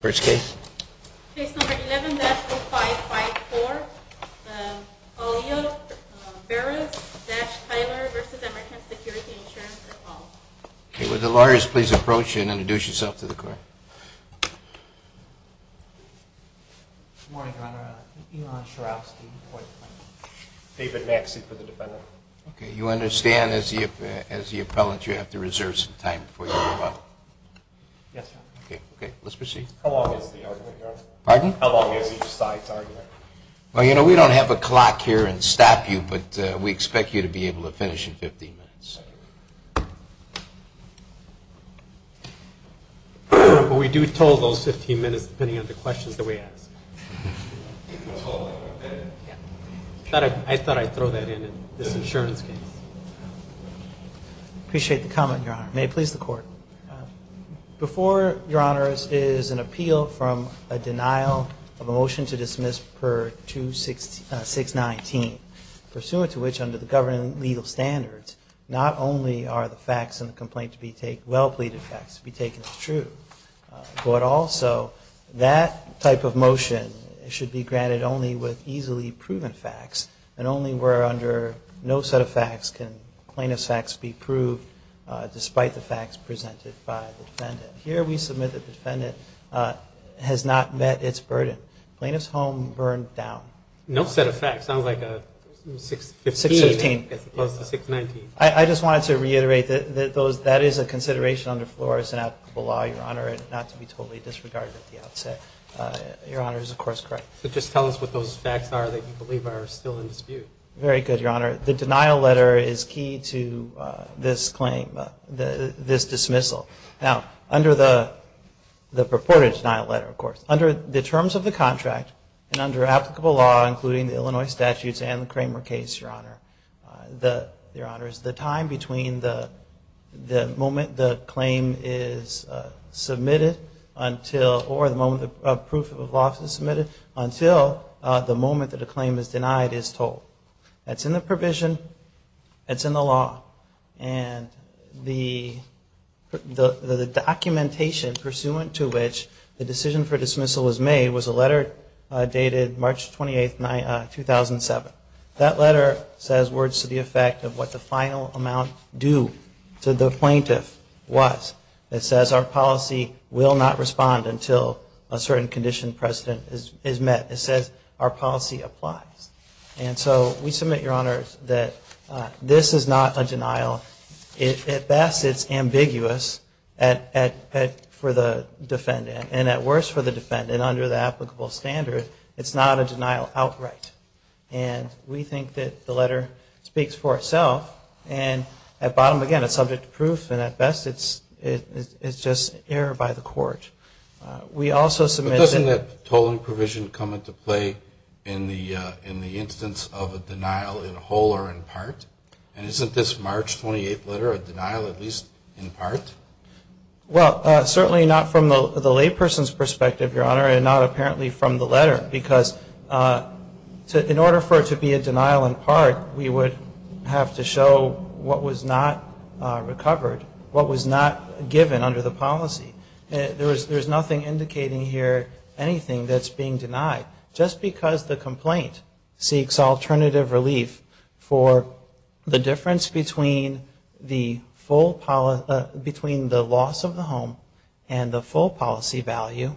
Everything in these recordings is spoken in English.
First case. Case number 11-0554, O'Neill-Berress-Taylor v. American Security Insurance. Okay, would the lawyers please approach and introduce yourself to the court? Good morning, Your Honor. Elon Sharofsky. David Maxey for the defendant. Okay, you understand as the appellant you have to reserve some time before you move on? Yes, Your Honor. Okay, let's proceed. How long is the argument, Your Honor? Pardon? How long is each side's argument? Well, you know, we don't have a clock here and stop you, but we expect you to be able to finish in 15 minutes. But we do total those 15 minutes depending on the questions that we ask. I thought I'd throw that in in this insurance case. I appreciate the comment, Your Honor. May it please the court? Before, Your Honor, is an appeal from a denial of a motion to dismiss per 2-619, pursuant to which, under the governing legal standards, not only are the facts in the complaint to be taken, well-pleaded facts to be taken as true, but also that type of motion should be granted only with easily proven facts and only where under no set of facts can plaintiff's facts be proved despite the facts presented by the defendant. Here we submit that the defendant has not met its burden. Plaintiff's home burned down. No set of facts. Sounds like a 615 as opposed to 619. I just wanted to reiterate that that is a consideration under FLORES and applicable law, Your Honor, not to be totally disregarded at the outset. Your Honor is, of course, correct. So just tell us what those facts are that you believe are still in dispute. Very good, Your Honor. The denial letter is key to this claim, this dismissal. Now, under the purported denial letter, of course, under the terms of the contract and under applicable law, including the Illinois statutes and the Kramer case, Your Honor, Your Honor, is the time between the moment the claim is submitted until, or the moment the proof of office is submitted until the moment that the claim is denied is told. That's in the provision. That's in the law. And the documentation pursuant to which the decision for dismissal was made was a letter dated March 28, 2007. That letter says words to the effect of what the final amount due to the plaintiff was. It says our policy will not respond until a certain condition precedent is met. It says our policy applies. And so we submit, Your Honor, that this is not a denial. At best, it's ambiguous for the defendant. And at worst for the defendant, under the applicable standard, it's not a denial outright. And we think that the letter speaks for itself. And at bottom, again, it's subject to proof. And at best, it's just error by the court. We also submit that... But doesn't that tolling provision come into play in the instance of a denial in whole or in part? And isn't this March 28 letter a denial at least in part? Well, certainly not from the layperson's perspective, Your Honor, and not apparently from the letter. Because in order for it to be a denial in part, we would have to show what was not recovered, what was not given under the policy. There's nothing indicating here anything that's being denied. Just because the complaint seeks alternative relief for the difference between the loss of the home and the full policy value,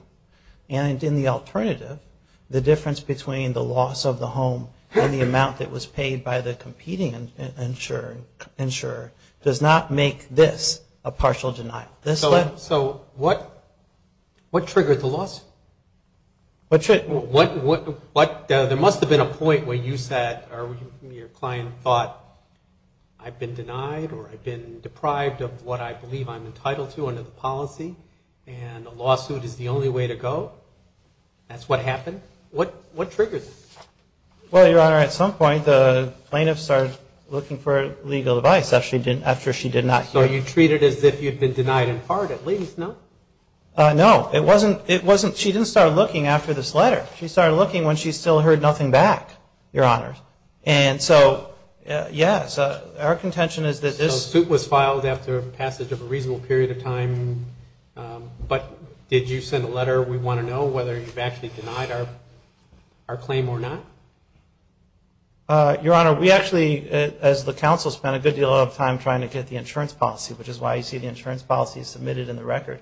and in the alternative, the difference between the loss of the home and the amount that was paid by the competing insurer, does not make this a partial denial. So what triggered the loss? There must have been a point where you said or your client thought, I've been denied or I've been deprived of what I believe I'm entitled to under the policy, and a lawsuit is the only way to go. That's what happened. What triggered this? Well, Your Honor, at some point, the plaintiff started looking for legal advice after she did not hear... So you treated it as if you'd been denied in part at least, no? No, it wasn't... She didn't start looking after this letter. She started looking when she still heard nothing back, Your Honor. And so, yes, our contention is that this... So the suit was filed after passage of a reasonable period of time, but did you send a letter, we want to know whether you've actually denied our claim or not? Your Honor, we actually, as the counsel, spent a good deal of time trying to get the insurance policy, which is why you see the insurance policy submitted in the record,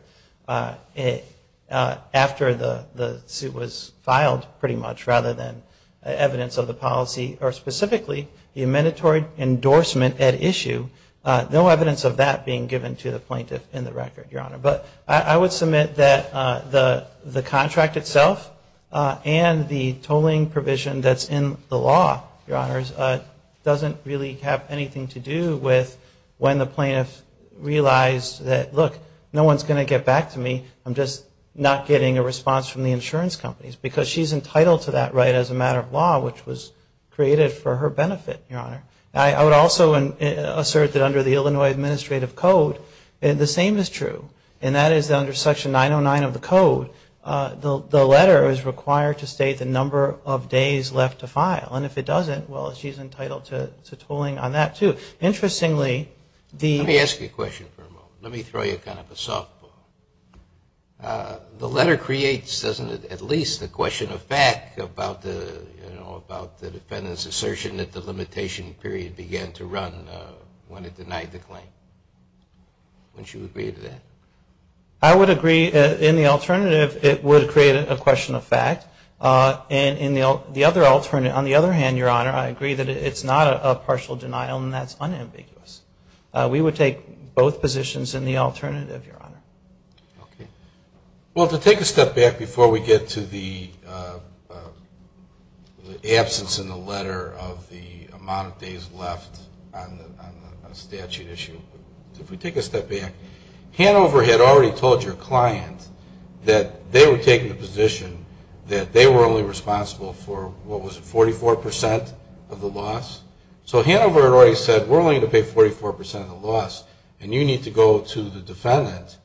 after the suit was filed, pretty much, rather than evidence of the policy, or specifically, the mandatory endorsement at issue. No evidence of that being given to the plaintiff in the record, Your Honor. But I would submit that the contract itself and the tolling provision that's in the law, Your Honors, doesn't really have anything to do with when the plaintiff realized that, look, no one's going to get back to me. I'm just not getting a response from the insurance companies. Because she's entitled to that right as a matter of law, which was created for her benefit, Your Honor. I would also assert that under the Illinois Administrative Code, the same is true. And that is, under Section 909 of the Code, the letter is required to state the number of days left to file. And if it doesn't, well, she's entitled to tolling on that, too. Interestingly, the... Let me throw you kind of a softball. The letter creates, doesn't it, at least a question of fact about the defendant's assertion that the limitation period began to run when it denied the claim. Wouldn't you agree to that? I would agree. In the alternative, it would create a question of fact. And in the other alternative, on the other hand, Your Honor, I agree that it's not a partial denial, and that's unambiguous. We would take both positions in the alternative, Your Honor. Okay. Well, to take a step back before we get to the absence in the letter of the amount of days left on the statute issue, if we take a step back, Hanover had already told your client that they were taking the position that they were only responsible for, what was it, 44% of the loss? So Hanover had already said, we're only going to pay 44% of the loss, and you need to go to the defendant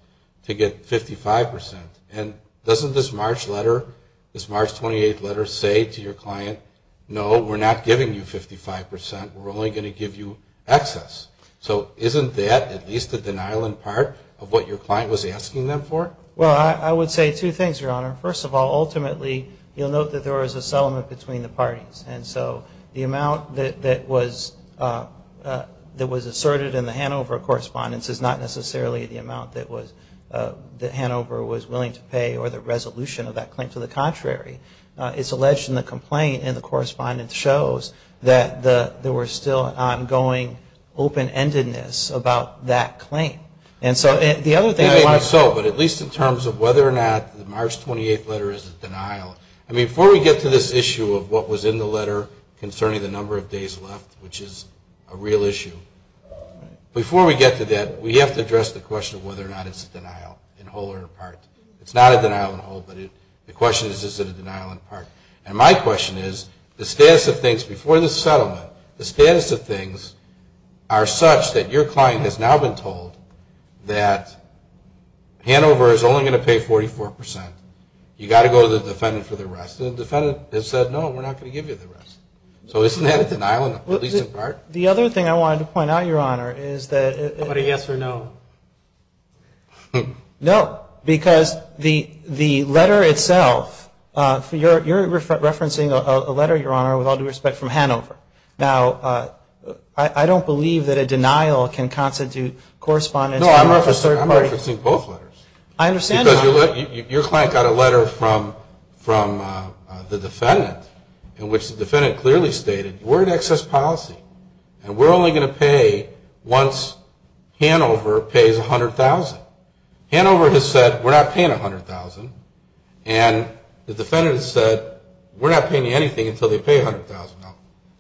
to get 55%. And doesn't this March letter, this March 28th letter say to your client, no, we're not giving you 55%. We're only going to give you excess. So isn't that at least a denial in part of what your client was asking them for? Well, I would say two things, Your Honor. First of all, ultimately, you'll note that there was a settlement between the parties. And so the amount that was asserted in the Hanover correspondence is not necessarily the amount that Hanover was willing to pay or the resolution of that claim. To the contrary, it's alleged in the complaint, and the correspondence shows that there was still an ongoing open-endedness about that claim. And so the other thing I want to say. I mean, before we get to this issue of what was in the letter concerning the number of days left, which is a real issue, before we get to that, we have to address the question of whether or not it's a denial in whole or in part. It's not a denial in whole, but the question is, is it a denial in part? And my question is, the status of things before the settlement, the status of things are such that your client has now been told that Hanover is only going to pay 44%. You've got to go to the defendant for the rest. The defendant has said, no, we're not going to give you the rest. So isn't that a denial, at least in part? The other thing I wanted to point out, Your Honor, is that... What, a yes or no? No, because the letter itself, you're referencing a letter, Your Honor, with all due respect, from Hanover. Now, I don't believe that a denial can constitute correspondence. No, I'm referencing both letters. I understand, Your Honor. Because your client got a letter from the defendant in which the defendant clearly stated, we're an excess policy, and we're only going to pay once Hanover pays $100,000. Hanover has said, we're not paying $100,000, and the defendant has said, we're not paying you anything until they pay $100,000.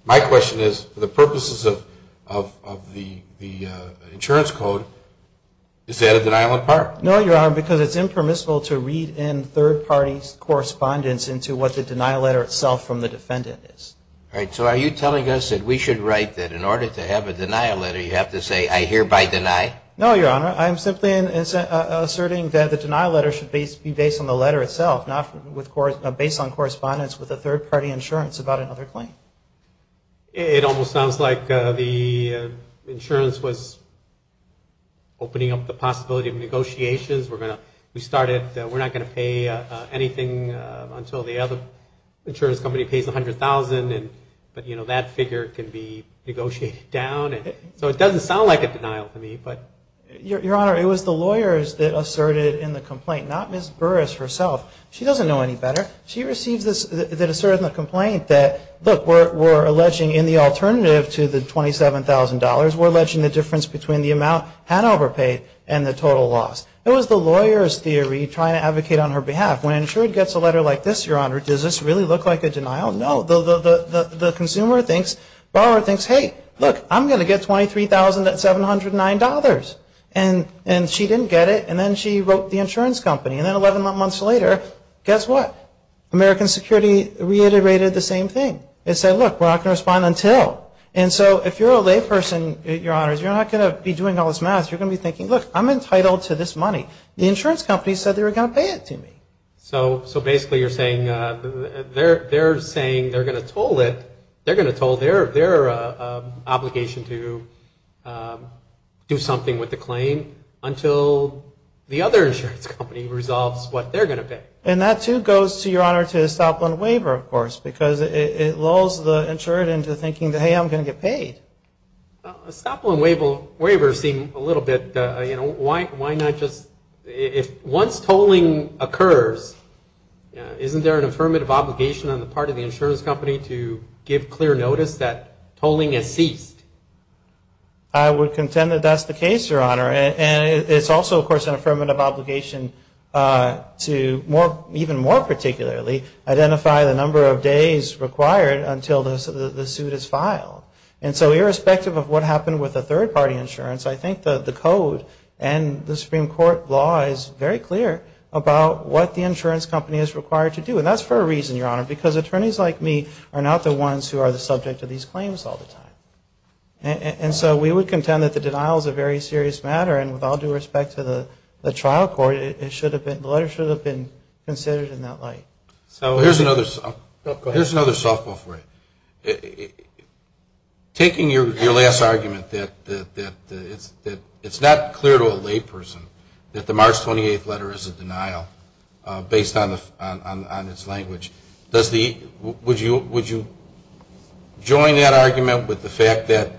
My question is, for the purposes of the insurance code, is that a denial in part? No, Your Honor, because it's impermissible to read in third-party correspondence into what the denial letter itself from the defendant is. All right, so are you telling us that we should write that in order to have a denial letter, you have to say, I hereby deny? No, Your Honor. I'm simply asserting that the denial letter should be based on the letter itself, not based on correspondence with a third-party insurance about another claim. It almost sounds like the insurance was opening up the possibility of negotiations. We started, we're not going to pay anything until the other insurance company pays $100,000, but that figure can be negotiated down. So it doesn't sound like a denial to me. Your Honor, it was the lawyers that asserted in the complaint, not Ms. Burris herself. She doesn't know any better. She receives this, that asserts in the complaint that, look, we're alleging in the alternative to the $27,000, we're alleging the difference between the amount had overpaid and the total loss. It was the lawyer's theory trying to advocate on her behalf. When an insured gets a letter like this, Your Honor, does this really look like a denial? No. The consumer thinks, borrower thinks, hey, look, I'm going to get $23,709. And she didn't get it, and then she wrote the insurance company. And then 11 months later, guess what? American Security reiterated the same thing. It said, look, we're not going to respond until. And so if you're a layperson, Your Honor, you're not going to be doing all this math. You're going to be thinking, look, I'm entitled to this money. The insurance company said they were going to pay it to me. So basically you're saying they're saying they're going to toll their obligation to do something with the claim until the other insurance company resolves what they're going to pay. And that, too, goes to, Your Honor, to a Stop-Loan Waiver, of course, because it lulls the insured into thinking, hey, I'm going to get paid. A Stop-Loan Waiver seems a little bit, you know, why not just, once tolling occurs, isn't there an affirmative obligation on the part of the insurance company to give clear notice that tolling has ceased? I would contend that that's the case, Your Honor, and it's also, of course, an affirmative obligation to, even more particularly, identify the number of days required until the suit is filed. And so irrespective of what happened with the third-party insurance, I think the code and the Supreme Court law is very clear about what the insurance company is required to do. And that's for a reason, Your Honor, because attorneys like me are not the ones who are the subject of these claims all the time. And so we would contend that the denial is a very serious matter and with all due respect to the trial court, the letter should have been considered in that light. Here's another softball for you. Taking your last argument that it's not clear to a lay person that the March 28th letter is a denial based on its language, would you join that argument with the fact that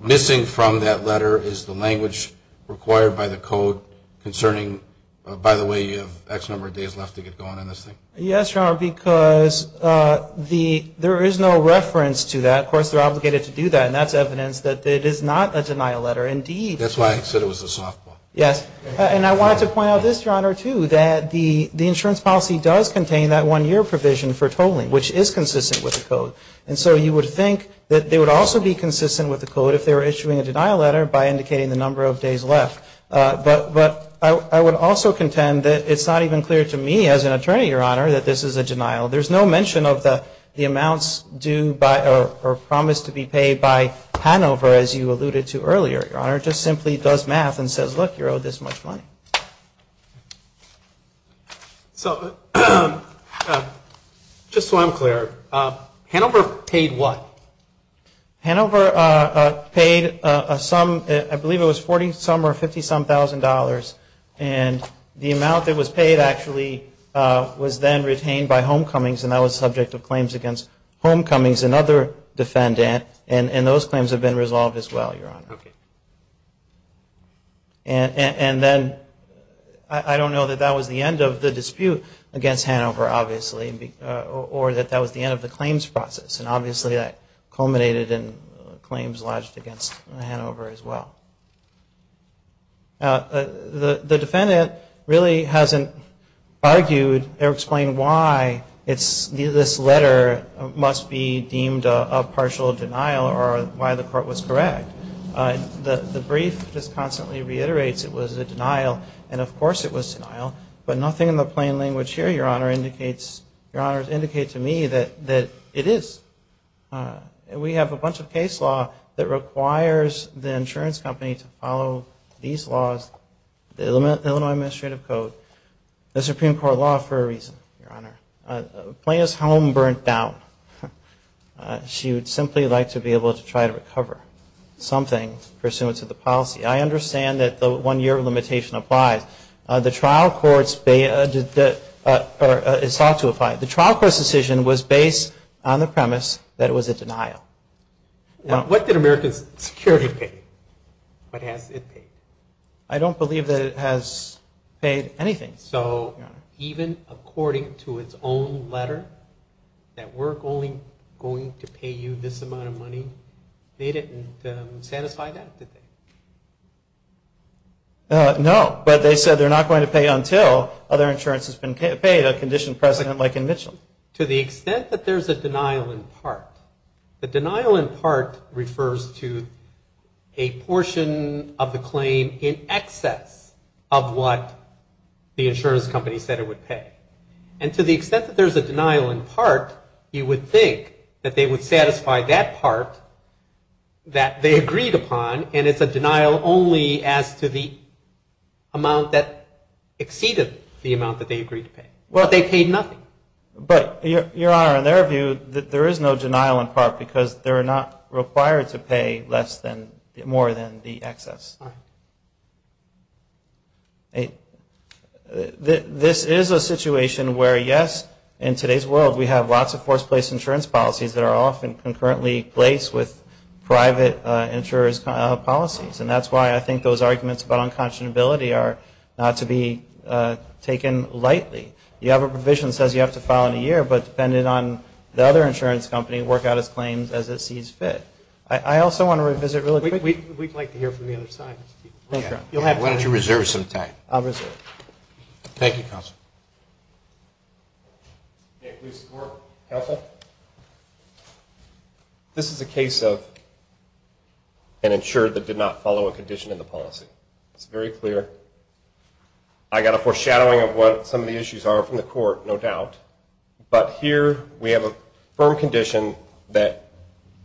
missing from that letter is the language required by the code concerning, by the way, you have X number of days left to get going on this thing? Yes, Your Honor, because there is no reference to that. Of course, they're obligated to do that and that's evidence that it is not a denial letter indeed. That's why I said it was a softball. Yes. And I wanted to point out this, Your Honor, too, that the insurance policy does contain that one year provision for tolling, which is consistent with the code. And so you would think that they would also be consistent with the code if they were issuing a denial letter by indicating But I would also contend that it's not even clear to me as an attorney, Your Honor, that this is a denial. There's no mention of the amounts due or promised to be paid by Hanover, as you alluded to earlier, Your Honor. It just simply does math and says look, you're owed this much money. Just so I'm clear, Hanover paid what? Hanover paid a sum, I believe it was 40-some or 50-some thousand dollars and the amount that was paid actually was then retained by homecomings and that was subject to claims against homecomings and other defendant and those claims have been resolved as well, Your Honor. I don't know that that was the end of the dispute against Hanover, obviously, or that that was the end of the claims process and obviously that culminated in claims lodged against Hanover as well. The defendant really hasn't argued or explained why this letter must be deemed a partial denial or why the court was correct. The brief just constantly reiterates it was a denial and of course it was denial, but nothing in the plain language to me that it is. We have a bunch of case law that requires the insurance company to follow these laws, the Illinois Administrative Code, the Supreme Court law for a reason, Your Honor. Plaintiff's home burnt down. She would simply like to be able to try to recover something pursuant to the policy. I understand that the one-year limitation applies. The trial courts sought to apply. The trial court's decision was based on the premise that it was a denial. What did American Security pay? What has it paid? I don't believe that it has paid anything. So even according to its own letter that we're only going to pay you this amount of money, they didn't satisfy that, did they? No, but they said they're not going to pay until other insurance has been paid, a conditioned precedent like in Mitchell. To the extent that there's a denial in part, the denial in part refers to a portion of the claim in excess of what the insurance company said it would pay. And to the extent that there's a denial in part, you would think that they would satisfy that part that they agreed upon and it's a denial only as to the amount that exceeded the amount that they agreed to pay. Well, they paid nothing. But, Your Honor, in their view, there is no denial in part because they're not required to pay less than, more than the excess. This is a situation where yes, in today's world we have lots of forced place insurance policies that are often concurrently placed with private insurers policies. And that's why I think those arguments about unconscionability are not to be taken lightly. You have a provision that says you have to file in a year, but depending on the other insurance company, work out its claims as it sees fit. I also want to revisit really quickly. We'd like to hear from the other side. You'll have to. Why don't you reserve some time. I'll reserve. Thank you, Counselor. This is a case of an insurer that did not follow a condition in the policy. It's very clear. I got a foreshadowing of what some of the issues are from the court, no doubt, but here we have a firm condition that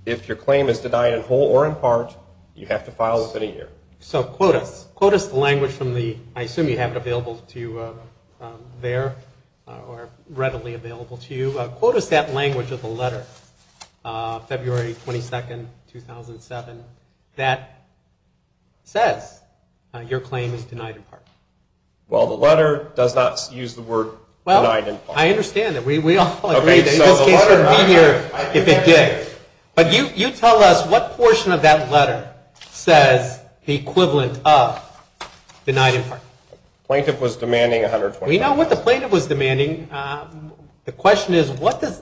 if your claim is denied in whole or in part, you have to file within a year. So quote us the language from the, I assume you have it available to you there or readily available to you. Quote us that language of the letter, February 22, 2007 that says your claim is denied in part. Well, the letter does not use the word denied in part. Well, I understand that. We all agree that in this case it would be here if it did. But you tell us what portion of that letter says the equivalent of denied in part. Plaintiff was demanding $120,000. We know what the plaintiff was demanding. The question is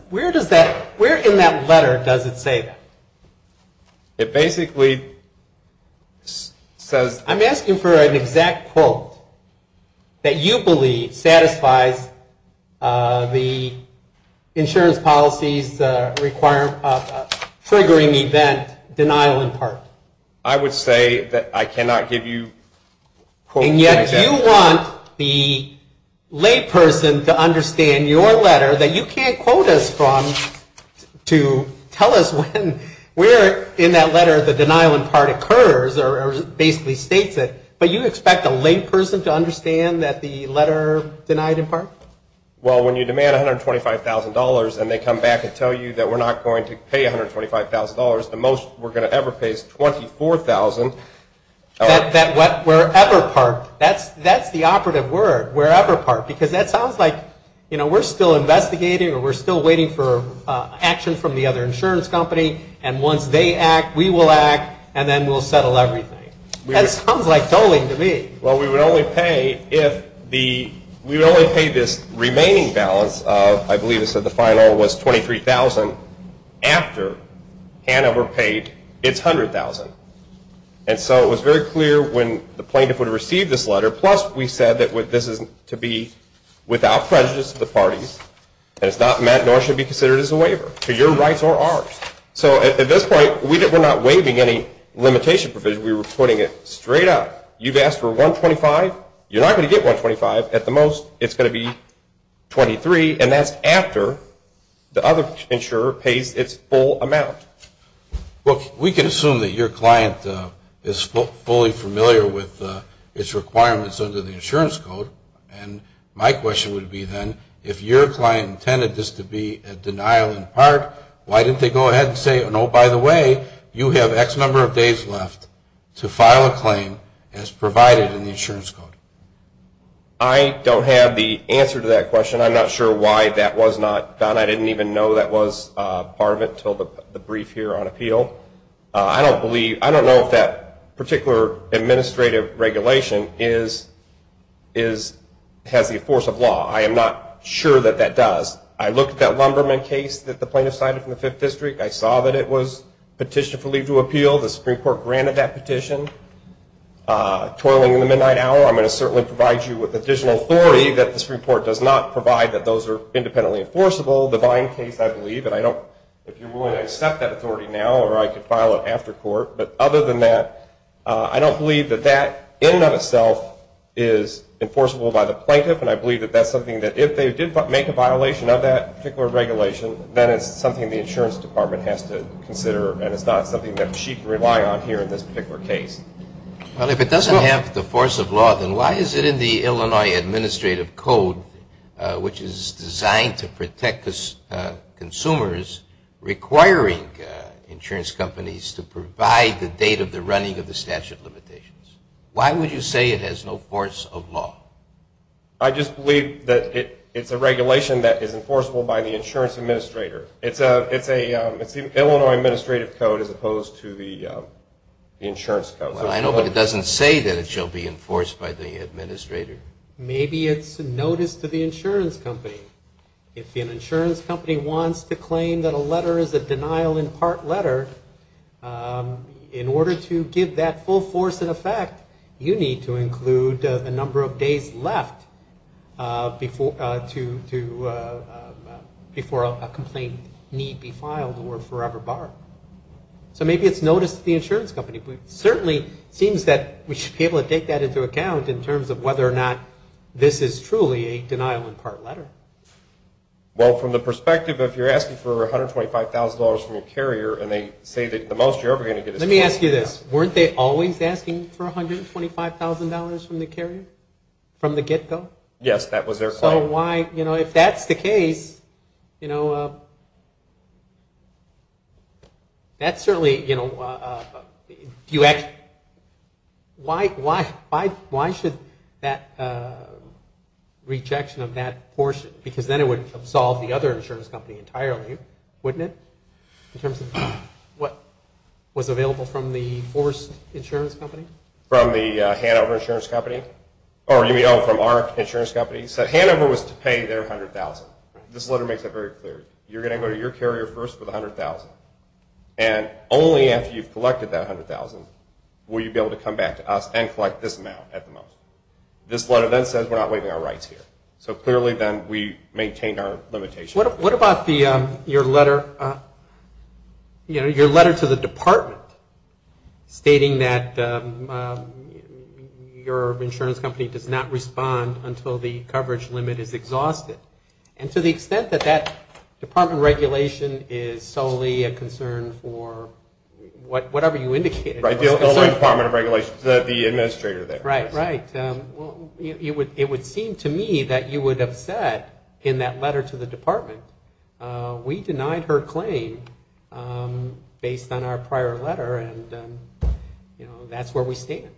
where does that, where in that letter does it say that? It basically says I'm asking for an exact quote that you believe satisfies the insurance policies requiring triggering event denial in part. I would say that I cannot give you And yet you want the lay person to understand your letter that you can't quote us from to tell us when where in that letter the denial in part occurs or basically states it. But you expect a lay person to understand that the letter denied in part? Well, when you demand $125,000 and they come back and tell you that we're not going to pay $125,000, the most we're going to ever pay is $24,000 That wherever part, that's the operative word, wherever part, because that sounds like we're still investigating or we're still waiting for and once they act, we will act and then we'll settle everything. That sounds like tolling to me. Well, we would only pay if the we would only pay this remaining balance of, I believe it said the final, was $23,000 after Hanna were paid it's $100,000 and so it was very clear when the plaintiff would have received this letter, plus we said that this is to be without prejudice to the parties and it's not meant nor should be considered as a waiver to your rights or ours. So at this point, we're not waiving any limitation provision, we were putting it straight up. You've asked for $125,000 you're not going to get $125,000 at the most it's going to be $23,000 and that's after the other insurer pays its full amount. We can assume that your client is fully familiar with its requirements under the insurance code and my question would be then, if your client intended this to be a denial in part why didn't they go ahead and say oh by the way, you have X number of days left to file a claim as provided in the insurance code? I don't have the answer to that question I'm not sure why that was not done I didn't even know that was part of it until the brief here on appeal I don't know if that particular administrative regulation has the force of law I am not sure that that does I looked at that Lumberman case that the plaintiff cited from the 5th District, I saw that it was petitioned for leave to appeal the Supreme Court granted that petition toiling in the midnight hour I'm going to certainly provide you with additional authority that the Supreme Court does not provide that those are independently enforceable the Vine case I believe, and I don't accept that authority now or I could file it after court, but other than that I don't believe that that in and of itself is enforceable by the plaintiff and I believe that that's something that if they did make a violation of that particular regulation, then it's something the insurance department has to consider and it's not something that she can rely on here in this particular case Well if it doesn't have the force of law then why is it in the Illinois Administrative Code which is consumers requiring insurance companies to provide the date of the running of the statute of limitations? Why would you say it has no force of law? I just believe that it's a regulation that is enforceable by the insurance administrator It's a Illinois Administrative Code as opposed to the insurance code Well I know but it doesn't say that it shall be enforced by the administrator Maybe it's notice to the insurance company. If an insurance company wants to claim that a letter is a denial in part letter in order to give that full force in effect you need to include the number of days left before a complaint need be filed or forever barred So maybe it's notice to the insurance company but it certainly seems that we should be able to take that into account in terms of whether or not this is truly a denial in part letter Well from the perspective if you're asking for $125,000 from your carrier and they say that Let me ask you this Weren't they always asking for $125,000 from the carrier? From the get go? Yes that was their claim If that's the case That's certainly Why should that rejection of that portion because then it would absolve the other insurance company entirely Wouldn't it? In terms of what was available from the forced insurance company From the Hanover insurance company Or you know from our insurance company said Hanover was to pay their $100,000. This letter makes it very clear You're going to go to your carrier first with $100,000 and only after you've collected that $100,000 will you be able to come back to us and collect this amount at the most This letter then says we're not waiving our rights here So clearly then we maintain our What about your letter to the department stating that your insurance company does not respond until the coverage limit is exhausted And to the extent that that department regulation is solely a concern for whatever you indicated The Department of Regulations, the administrator Right It would seem to me that you would have said in that letter to the department We denied her claim based on our prior letter and you know that's where we stand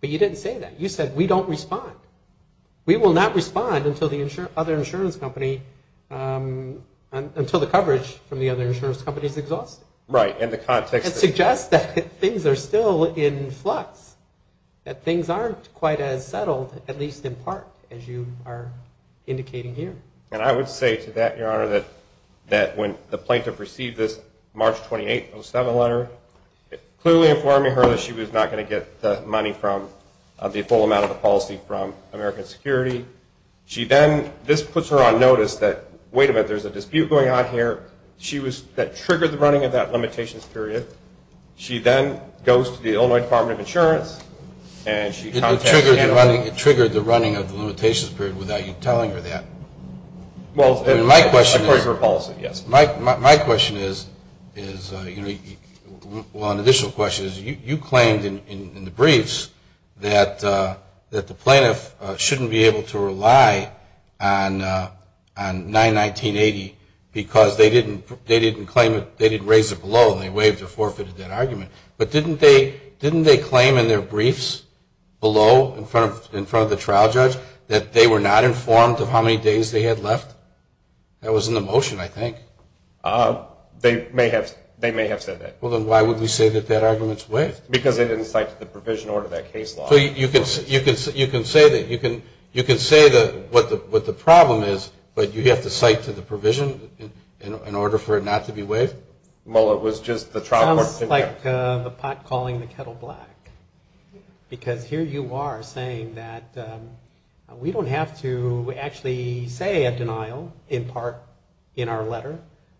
But you didn't say that. You said we don't respond. We will not respond until the other insurance company until the coverage from the other insurance company is exhausted It suggests that things are still in flux That things aren't quite as settled at least in part as you are indicating here And I would say to that, your honor that when the plaintiff received this March 28, 2007 letter it clearly informed her that she was not going to get the money from the full amount of the policy from American Security This puts her on notice that wait a minute, there's a dispute going on here that triggered the running of that limitations period She then goes to the Illinois Department of Insurance It triggered the running of the limitations period without you telling her that My question is My question is well an additional question is you claimed in the briefs that the plaintiff shouldn't be able to rely on 91980 claim it, they didn't raise it below and they waived or forfeited that argument But didn't they claim in their briefs below in front of the trial judge that they were not informed of how many days they had left? That was in the motion I think They may have said that Well then why would we say that that argument is waived? Because they didn't cite to the provision order that case law So you can say that you can say what the problem is but you have to cite to the provision in order for it not to be waived It sounds like the pot calling the kettle black because here you are saying that we don't have to actually say a denial in part in our letter,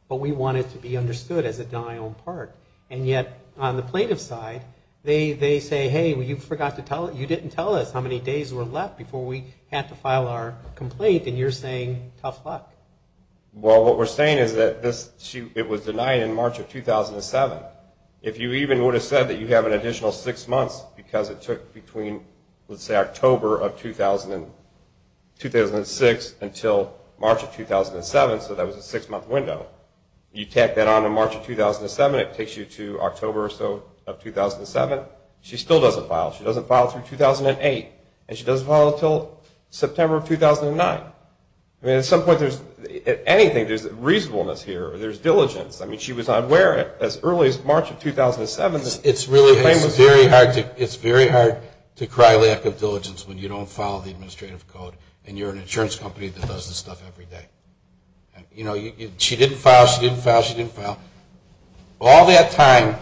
but we want it to be understood as a denial in part and yet on the plaintiff's side they say hey you didn't tell us how many days were left before we had to file our complaint and you're saying tough luck Well what we're saying is that it was denied in March of 2007 If you even would have said that you have an additional 6 months because it took between October of 2006 until March of 2007 so that was a 6 month window You tack that on to March of 2007 it takes you to October or so of 2007 She still doesn't file She doesn't file through 2008 and she doesn't file until September of 2009 At some point There's reasonableness here, there's diligence She was aware as early as March of 2007 It's very hard to cry lack of diligence when you don't file the administrative code and you're an insurance company that does this stuff every day She didn't file, she didn't file, she didn't file All that time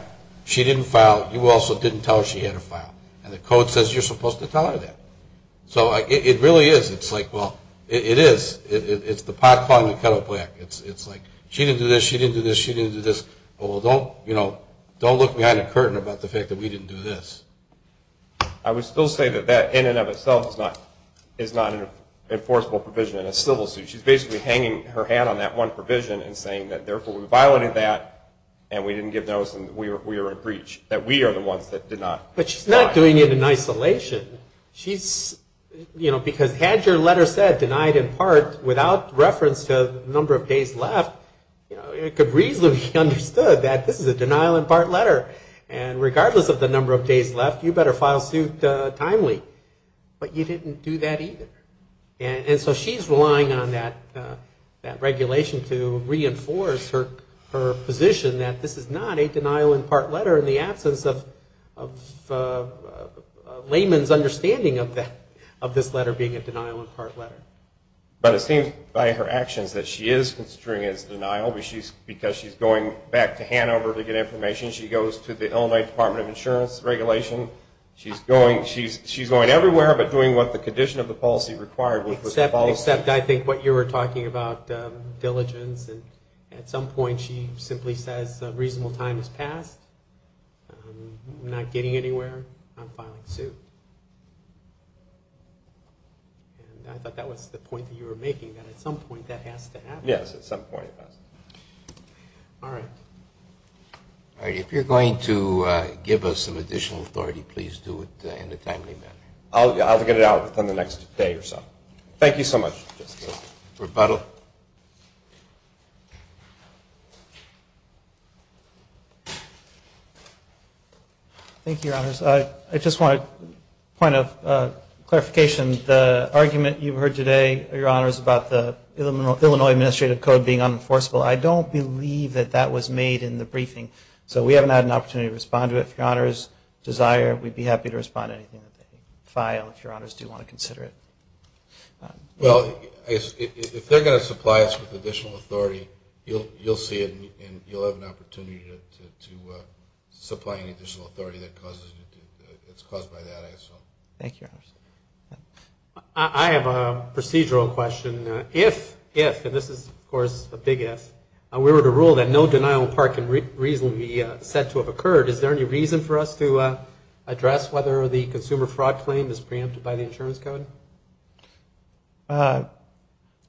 she didn't file you also didn't tell her she had to file and the code says you're supposed to tell her that So it really is It is It's the pot calling the kettle black She didn't do this, she didn't do this Don't look behind a curtain about the fact that we didn't do this I would still say that in and of itself is not an enforceable provision in a civil suit She's basically hanging her hat on that one provision and saying therefore we violated that and we didn't give notice and we are in breach that we are the ones that did not But she's not doing it in isolation She's because had your letter said denied in part without reference to the number of days left it could reasonably be understood that this is a denial in part letter and regardless of the number of days left you better file suit timely but you didn't do that either and so she's relying on that regulation to reinforce her position that this is not a denial in part letter in the absence of a layman's understanding of this letter being a denial in part letter But it seems by her actions that she is considering it as denial because she's going back to Hanover to get information She goes to the Illinois Department of Insurance regulation She's going everywhere but doing what the condition of the policy required was Except I think what you were talking about diligence at some point she simply says a reasonable time has passed I'm not getting anywhere I'm filing suit I thought that was the point you were making that at some point that has to happen Yes at some point Alright If you're going to give us some additional authority please do it in a timely manner I'll get it out within the next day or so Thank you so much Rebuttal Thank you your honors I just want a point of clarification the argument you've heard today your honors about the Illinois Administrative Code being unenforceable I don't believe that that was made in the briefing so we haven't had an opportunity to respond to it if your honors desire we'd be happy to respond to anything that they file if your honors do want to consider it Well if they're going to supply us with additional authority you'll see it and you'll have an opportunity to supply any additional authority that causes it's caused by that I assume Thank you your honors I have a procedural question if and this is of course a big if we were to rule that no denial of part can reasonably be said to have occurred is there any reason for us to address whether the consumer fraud claim is preempted by the insurance code I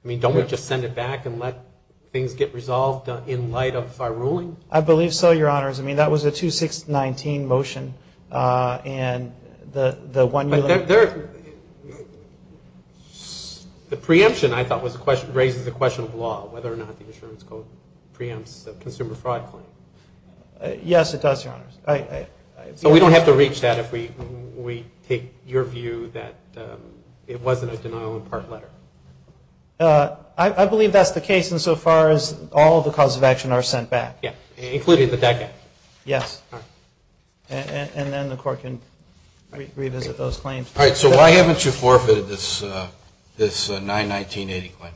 mean don't we just send it back and let things get resolved in light of our ruling I believe so your honors I mean that was a 2619 motion and the one the preemption I thought was raises the question of law whether or not the insurance code preempts the consumer fraud claim Yes it does your honors So we don't have to reach that if we take your view that it wasn't a denial of part letter I believe that's the case in so far as all the causes of action are sent back Including the decadence Yes and then the court can revisit those claims So why haven't you forfeited this this 91980 claim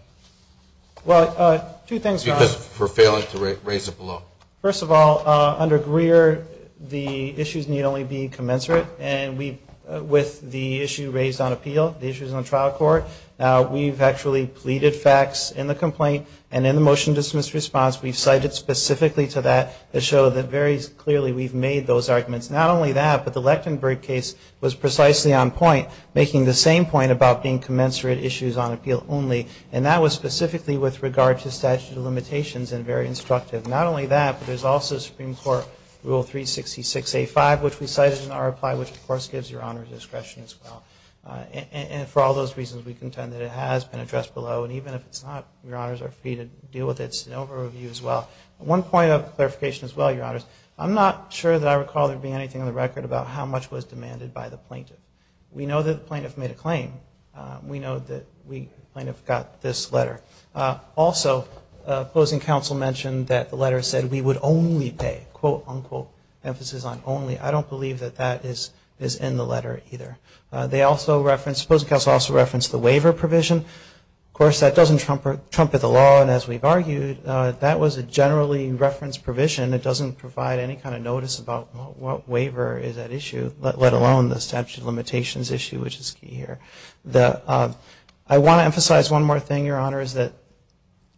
Well two things because for failing to raise it below First of all under Greer the issues need only be commensurate and we with the issue raised on appeal the issues on trial court we've actually pleaded facts in the complaint and in the motion dismissed response we've cited specifically to that to show that very clearly we've made those arguments not only that but the Lechtenberg case was precisely on point making the same point about being commensurate issues on appeal only and that was specifically with regard to statute of limitations and very instructive not only that but there's also supreme court rule 366 A5 which we cited in our reply which of course gives your honors discretion as well and for all those reasons we contend that it has been addressed below and even if it's not your honors are free to deal with it it's an over review as well. One point of clarification as well your honors I'm not sure that I recall there being anything on the record about how much was demanded by the plaintiff we know that the plaintiff made a claim we know that the plaintiff got this letter. Also opposing counsel mentioned that the letter said we would only pay quote unquote emphasis on only I don't believe that that is in the letter either. They also referenced opposing counsel also referenced the waiver provision of course that doesn't trumpet the law and as we've argued that was a generally referenced provision that doesn't provide any kind of notice about what waiver is at issue let alone the statute of limitations issue which is key here. I want to emphasize one more thing your honors that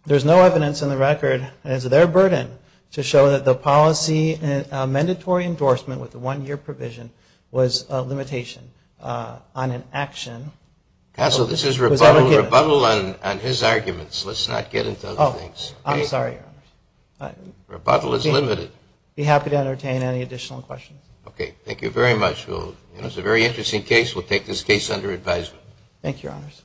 there's no evidence in the record as their burden to show that the policy mandatory endorsement with the one year provision was a limitation on an action. Counsel this is rebuttal on his arguments let's not get into other things. I'm sorry your honors. Rebuttal is limited. I'd be happy to entertain any additional questions. Okay thank you very much. It was a very interesting case we'll take this case under advisement. Thank you your honors.